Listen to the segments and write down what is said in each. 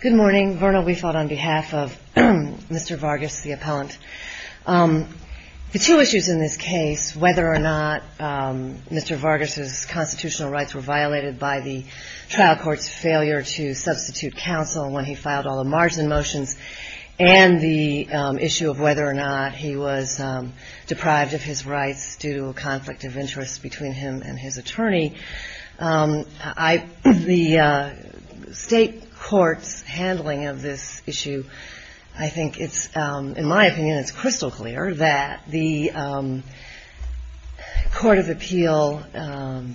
Good morning. Verna Weifold on behalf of Mr. Vargas, the appellant. The two issues in this case, whether or not Mr. Vargas' constitutional rights were violated by the trial court's failure to substitute counsel when he filed all the margin motions, and the issue of whether or not he was deprived of his rights due to a conflict of interest between him and his attorney, the state court's handling of this issue, I think it's, in my opinion, it's crystal clear that the court of appeal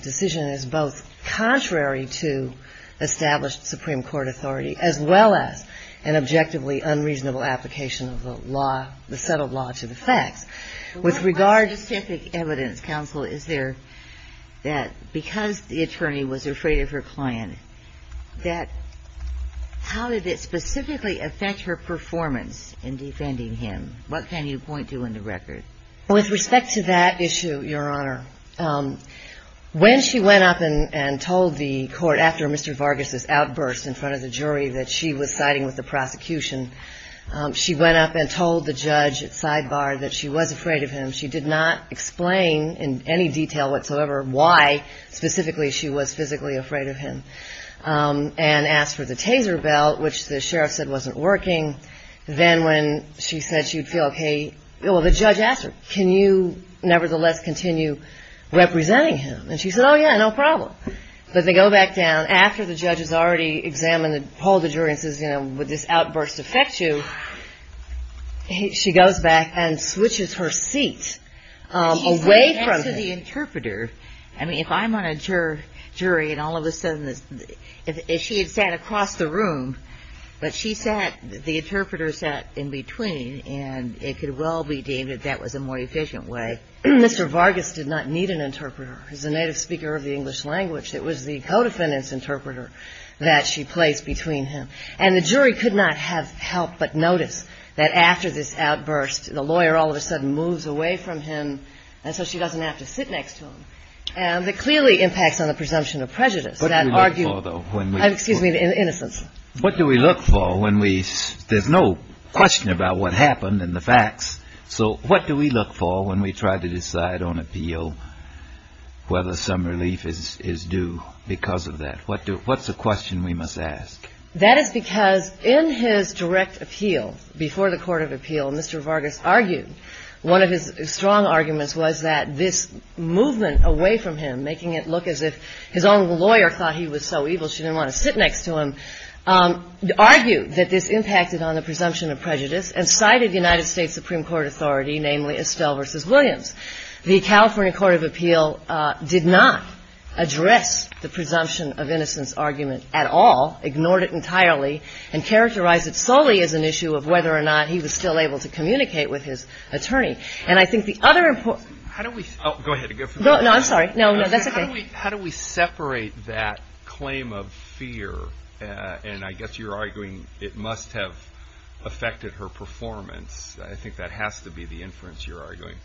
decision is both contrary to established Supreme Court authority as well as an objectively unreasonable application of the law, the settled law to the facts. With regard to specific evidence, counsel, is there that because the attorney was afraid of her client, that how did it specifically affect her performance in defending him? What can you point to in the record? With respect to that issue, Your Honor, when she went up and told the court after Mr. Vargas' outburst in front of the jury that she was siding with the prosecution, she went up and told the judge at sidebar that she was afraid of him. She did not explain in any detail whatsoever why specifically she was physically afraid of him, and asked for the taser belt, which the sheriff said wasn't working. Then when she said she would feel okay, well, the judge asked her, can you nevertheless continue representing him? And she said, oh, yeah, no problem. But they go back down after the judge has already examined and polled the jury and says, you know, would this outburst affect you? She goes back and switches her seat away from him. I mean, if I'm on a jury and all of a sudden, if she had sat across the room, but she sat, the interpreter sat in between, and it could well be deemed that that was a more efficient way. Mr. Vargas did not need an interpreter. He's a native speaker of the English language. It was the co-defendant's interpreter that she placed between him. And the jury could not have helped but notice that after this outburst, the lawyer all of a sudden moves away from him, and so she doesn't have to sit next to him. And that clearly impacts on the presumption of prejudice. What do we look for, though? Excuse me, innocence. What do we look for when we – there's no question about what happened and the facts. So what do we look for when we try to decide on appeal whether some relief is due because of that? What's the question we must ask? That is because in his direct appeal, before the court of appeal, Mr. Vargas argued one of his strong arguments was that this movement away from him, making it look as if his own lawyer thought he was so evil she didn't want to sit next to him, argued that this impacted on the presumption of prejudice and cited United States Supreme Court authority, namely Estelle v. Williams. The California court of appeal did not address the presumption of innocence argument at all, ignored it entirely, and characterized it solely as an issue of whether or not he was still able to communicate with his attorney. And I think the other important – How do we – Oh, go ahead. No, I'm sorry. No, no, that's okay. How do we separate that claim of fear? And I guess you're arguing it must have affected her performance. I think that has to be the inference you're arguing.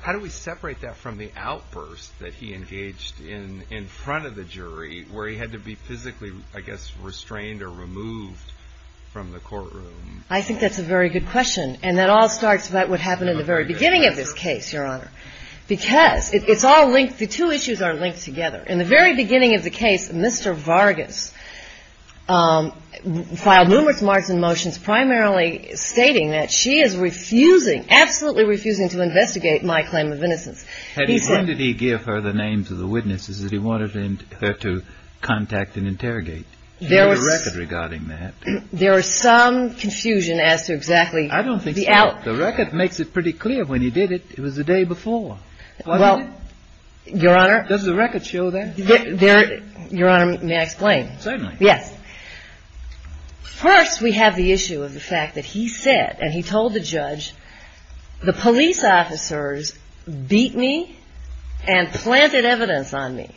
How do we separate that from the outburst that he engaged in in front of the jury where he had to be physically, I guess, restrained or removed from the courtroom? I think that's a very good question. And that all starts with what happened in the very beginning of this case, Your Honor, because it's all linked – the two issues are linked together. In the very beginning of the case, Mr. Vargas filed numerous marks and motions primarily stating that she is refusing, absolutely refusing, to investigate my claim of innocence. He said – Had he said that he gave her the names of the witnesses that he wanted her to contact and interrogate? He had a record regarding that. There was some confusion as to exactly the out – I don't think so. The record makes it pretty clear. When he did it, it was the day before. Well, Your Honor – Can I show that? There – Your Honor, may I explain? Certainly. Yes. First, we have the issue of the fact that he said, and he told the judge, the police officers beat me and planted evidence on me.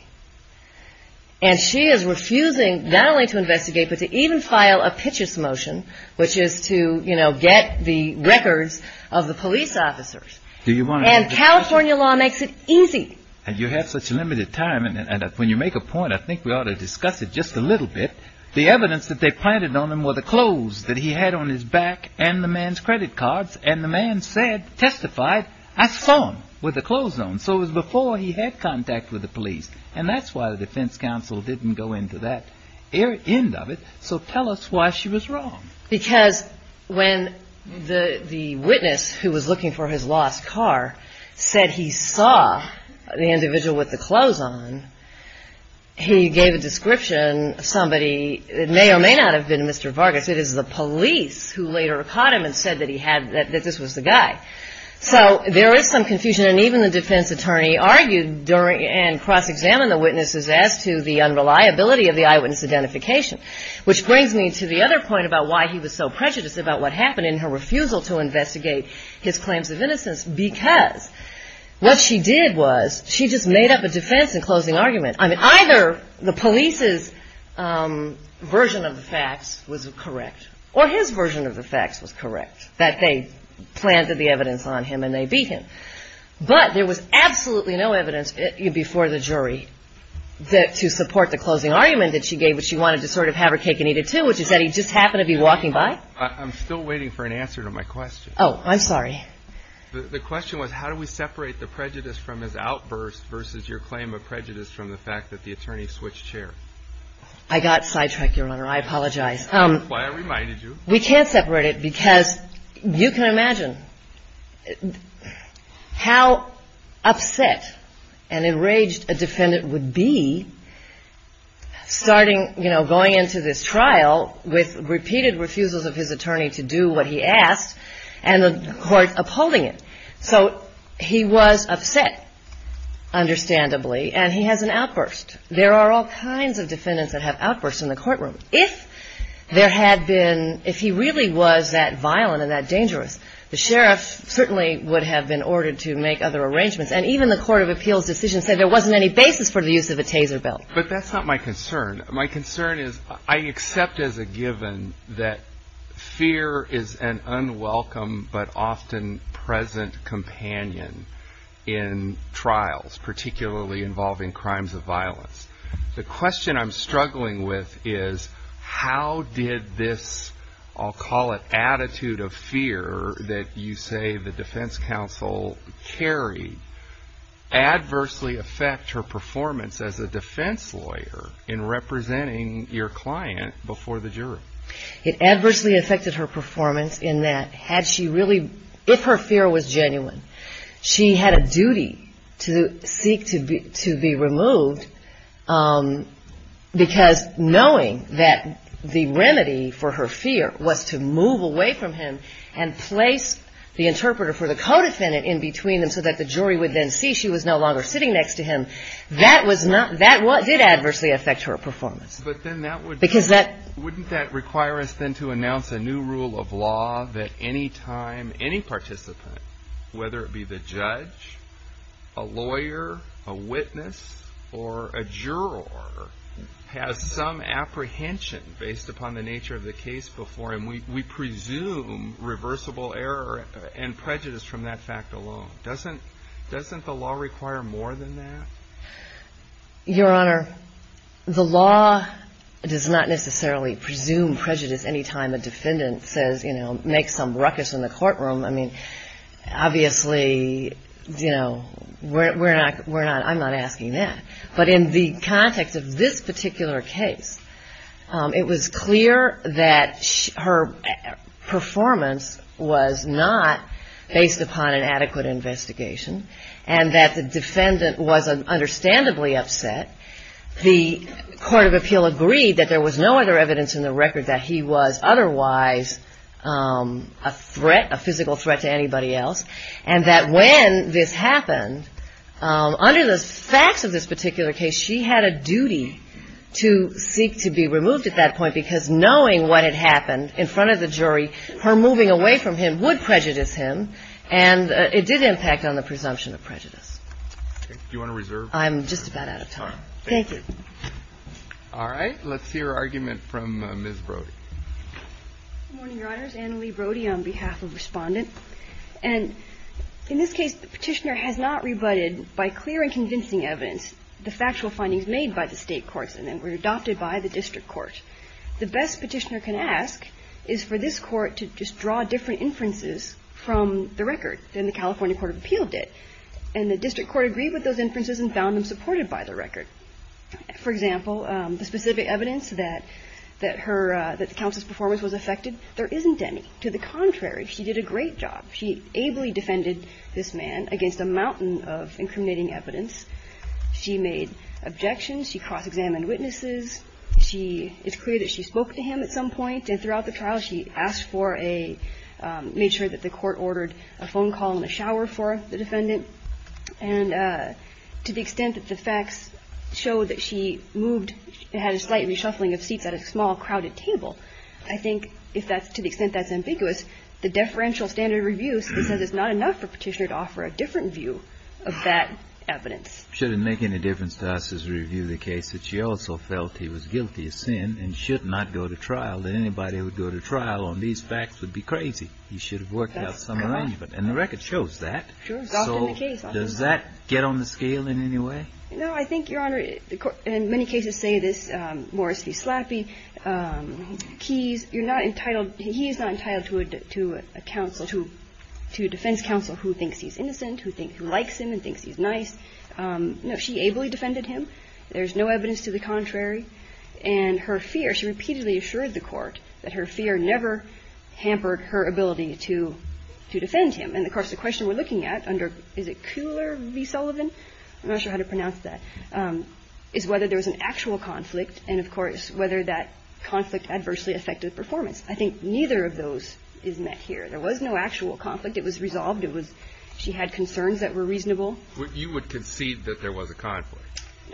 And she is refusing not only to investigate but to even file a pitches motion, which is to, you know, get the records of the police officers. Do you want to – And California law makes it easy. And you have such limited time, and when you make a point, I think we ought to discuss it just a little bit. The evidence that they planted on him were the clothes that he had on his back and the man's credit cards. And the man said, testified, I saw him with the clothes on. So it was before he had contact with the police. And that's why the defense counsel didn't go into that end of it. So tell us why she was wrong. Because when the witness who was looking for his lost car said he saw the individual with the clothes on, he gave a description of somebody that may or may not have been Mr. Vargas. It is the police who later caught him and said that he had – that this was the guy. So there is some confusion. And even the defense attorney argued during – and cross-examined the witnesses as to the unreliability of the eyewitness identification. Which brings me to the other point about why he was so prejudiced about what happened in her refusal to investigate his claims of innocence. Because what she did was she just made up a defense in closing argument. I mean, either the police's version of the facts was correct, or his version of the facts was correct, that they planted the evidence on him and they beat him. But there was absolutely no evidence before the jury to support the closing argument that she gave, which she wanted to sort of have her cake and eat it too, which is that he just happened to be walking by. I'm still waiting for an answer to my question. Oh, I'm sorry. The question was how do we separate the prejudice from his outburst versus your claim of prejudice from the fact that the attorney switched chairs? I got sidetracked, Your Honor. I apologize. That's why I reminded you. We can't separate it because you can imagine how upset and enraged a defendant would be starting, you know, going into this trial with repeated refusals of his attorney to do what he asked and the court upholding it. So he was upset, understandably, and he has an outburst. There are all kinds of defendants that have outbursts in the courtroom. If there had been, if he really was that violent and that dangerous, the sheriff certainly would have been ordered to make other arrangements. And even the court of appeals decision said there wasn't any basis for the use of a taser belt. But that's not my concern. My concern is I accept as a given that fear is an unwelcome but often present companion in trials, particularly involving crimes of violence. The question I'm struggling with is how did this, I'll call it, attitude of fear that you say the defense counsel carried, adversely affect her performance as a defense lawyer in representing your client before the jury? It adversely affected her performance in that had she really, if her fear was genuine, she had a duty to seek to be removed because knowing that the remedy for her fear was to move away from him and place the interpreter for the co-defendant in between them so that the jury would then see she was no longer sitting next to him, that did adversely affect her performance. Wouldn't that require us then to announce a new rule of law that any time any participant, whether it be the judge, a lawyer, a witness, or a juror, has some apprehension based upon the nature of the case before him, we presume reversible error and prejudice from that fact alone. Doesn't the law require more than that? Your Honor, the law does not necessarily presume prejudice any time a defendant says, you know, make some ruckus in the courtroom. I mean, obviously, you know, we're not, we're not, I'm not asking that. But in the context of this particular case, it was clear that her performance was not based upon an adequate investigation and that the defendant was understandably upset. The court of appeal agreed that there was no other evidence in the record that he was otherwise a threat, a physical threat to anybody else, and that when this happened, under the facts of this particular case, she had a duty to seek to be removed at that point because knowing what had happened in front of the jury, her moving away from him would prejudice him, and it did impact on the presumption of prejudice. Do you want to reserve time? I'm just about out of time. Thank you. All right. Let's hear argument from Ms. Brody. Good morning, Your Honors. Anna Lee Brody on behalf of Respondent. And in this case, the Petitioner has not rebutted by clear and convincing evidence the factual findings made by the State courts and then were adopted by the District Court. The best Petitioner can ask is for this Court to just draw different inferences from the record than the California Court of Appeal did. And the District Court agreed with those inferences and found them supported by the record. For example, the specific evidence that her – that the counsel's performance was affected, there isn't any. To the contrary, she did a great job. She ably defended this man against a mountain of incriminating evidence. She made objections. She cross-examined witnesses. She – it's clear that she spoke to him at some point. And throughout the trial, she asked for a – made sure that the Court ordered a phone call and a shower for the defendant. And to the extent that the facts showed that she moved – had a slight reshuffling of seats at a small, crowded table, I think if that's – to the extent that's ambiguous, the deferential standard review says it's not enough for Petitioner to offer a different view of that evidence. Should it make any difference to us as we review the case that she also felt he was guilty of sin and should not go to trial, that anybody would go to trial on these facts would be crazy. He should have worked out some arrangement. And the record shows that. Sure. It's often the case. So does that get on the scale in any way? No. I think, Your Honor, the – and many cases say this. Morris v. Slappy, he's – you're not entitled – he is not entitled to a – to a counsel – to a defense counsel who thinks he's innocent, who thinks – who likes him and thinks he's nice. No. She ably defended him. There's no evidence to the contrary. And her fear – she repeatedly assured the Court that her fear never hampered her ability to – to defend him. And, of course, the question we're looking at under – is it Kuhler v. Sullivan? I'm not sure how to pronounce that – is whether there was an actual conflict and, of course, whether that conflict adversely affected performance. I think neither of those is met here. There was no actual conflict. It was resolved. It was – she had concerns that were reasonable. You would concede that there was a conflict?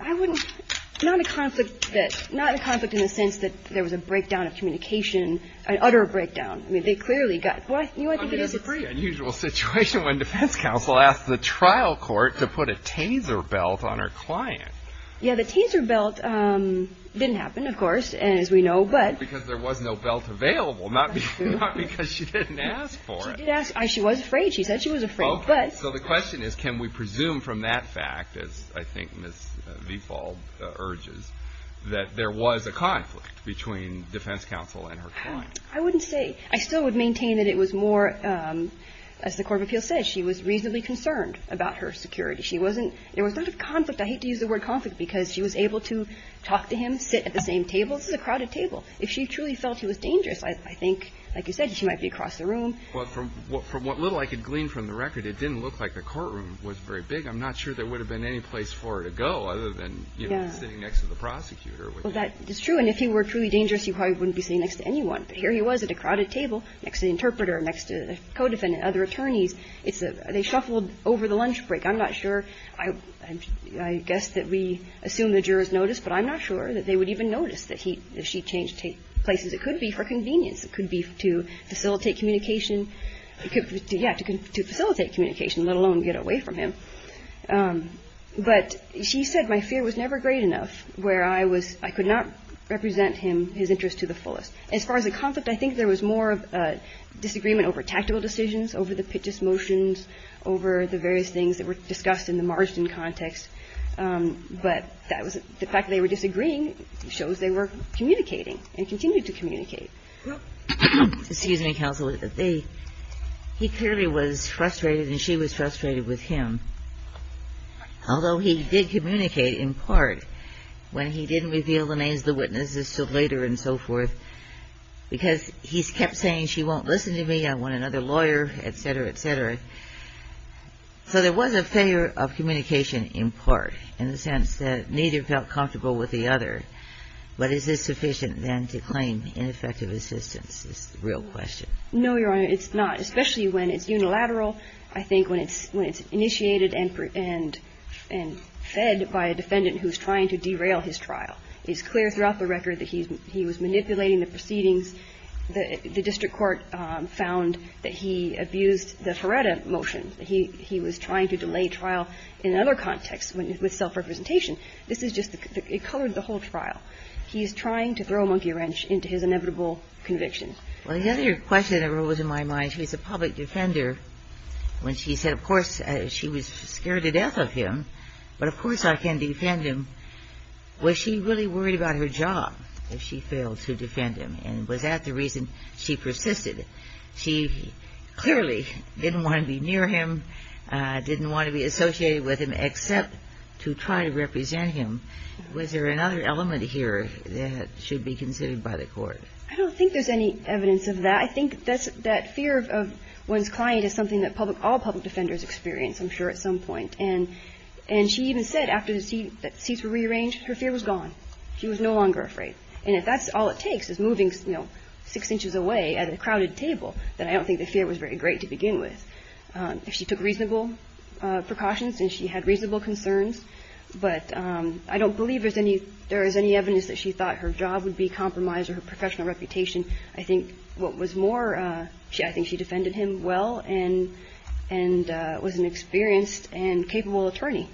I wouldn't – not a conflict that – not a conflict in the sense that there was a breakdown of communication, an utter breakdown. I mean, they clearly got – well, you might think it is. I mean, it's a pretty unusual situation when defense counsel asks the trial court to put a taser belt on her client. Yeah. The taser belt didn't happen, of course, as we know, but – Because there was no belt available, not because she didn't ask for it. She did ask. She was afraid. She said she was afraid, but – Okay. So the question is can we presume from that fact, as I think Ms. Viefald urges, that there was a conflict between defense counsel and her client? I wouldn't say. I still would maintain that it was more – as the court of appeals said, she was reasonably concerned about her security. She wasn't – there was not a conflict. I hate to use the word conflict because she was able to talk to him, sit at the same table. This is a crowded table. If she truly felt he was dangerous, I think, like you said, she might be across the room. But from what little I could glean from the record, it didn't look like the courtroom was very big. I'm not sure there would have been any place for her to go other than, you know, sitting next to the prosecutor. Well, that is true. And if he were truly dangerous, he probably wouldn't be sitting next to anyone. But here he was at a crowded table next to the interpreter, next to the co-defendant, other attorneys. It's a – they shuffled over the lunch break. I'm not sure. I guess that we assume the jurors noticed, but I'm not sure that they would even notice that he – that she changed places. It could be for convenience. It could be to facilitate communication. Yeah, to facilitate communication, let alone get away from him. But she said my fear was never great enough where I was – I could not represent him – his interest to the fullest. As far as the conflict, I think there was more disagreement over tactical decisions, over the pitches motions, over the various things that were discussed in the margin context. But that was – the fact that they were disagreeing shows they were communicating and continued to communicate. Excuse me, counsel. He clearly was frustrated and she was frustrated with him, although he did communicate in part when he didn't reveal the names of the witnesses until later and so forth because he kept saying she won't listen to me, I want another lawyer, et cetera, et cetera. So there was a failure of communication in part in the sense that neither felt comfortable with the other. But is this sufficient, then, to claim ineffective assistance is the real question? No, Your Honor, it's not, especially when it's unilateral. I think when it's initiated and fed by a defendant who's trying to derail his trial. It's clear throughout the record that he was manipulating the proceedings. The district court found that he abused the Feretta motion. He was trying to delay trial in another context with self-representation. This is just the – it colored the whole trial. He is trying to throw a monkey wrench into his inevitable conviction. Well, the other question that rose in my mind, she was a public defender when she said, of course, she was scared to death of him, but of course I can defend him. Was she really worried about her job if she failed to defend him? And was that the reason she persisted? She clearly didn't want to be near him, didn't want to be associated with him except to try to represent him. Was there another element here that should be considered by the court? I don't think there's any evidence of that. I think that fear of one's client is something that public – all public defenders experience, I'm sure, at some point. And she even said after the seats were rearranged, her fear was gone. She was no longer afraid. And if that's all it takes is moving, you know, 6 inches away at a crowded table, then I don't think the fear was very great to begin with. If she took reasonable precautions and she had reasonable concerns, but I don't believe there's any evidence that she thought her job would be compromised or her professional reputation. I think what was more, I think she defended him well and was an experienced and capable attorney.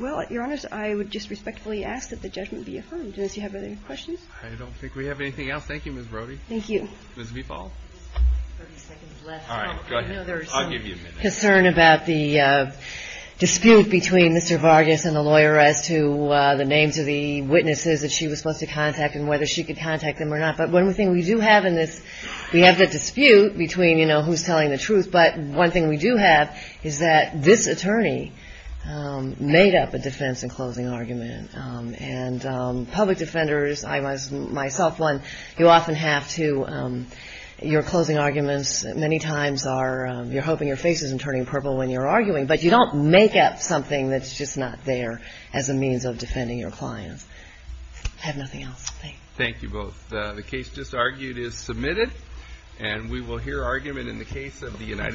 Well, Your Honors, I would just respectfully ask that the judgment be affirmed. Do you have any questions? I don't think we have anything else. Thank you, Ms. Brody. Thank you. Ms. Vifal. 30 seconds left. All right, go ahead. I'll give you a minute. I know there's some concern about the dispute between Mr. Vargas and the lawyer as to the names of the witnesses that she was supposed to contact and whether she could contact them or not. But one thing we do have in this, we have the dispute between, you know, who's telling the truth. But one thing we do have is that this attorney made up a defense in closing argument. And public defenders, I was myself one, you often have to, your closing arguments many times are, you're hoping your face isn't turning purple when you're arguing. But you don't make up something that's just not there as a means of defending your clients. I have nothing else. Thank you. Thank you both. The case just argued is submitted. And we will hear argument in the case of the United States.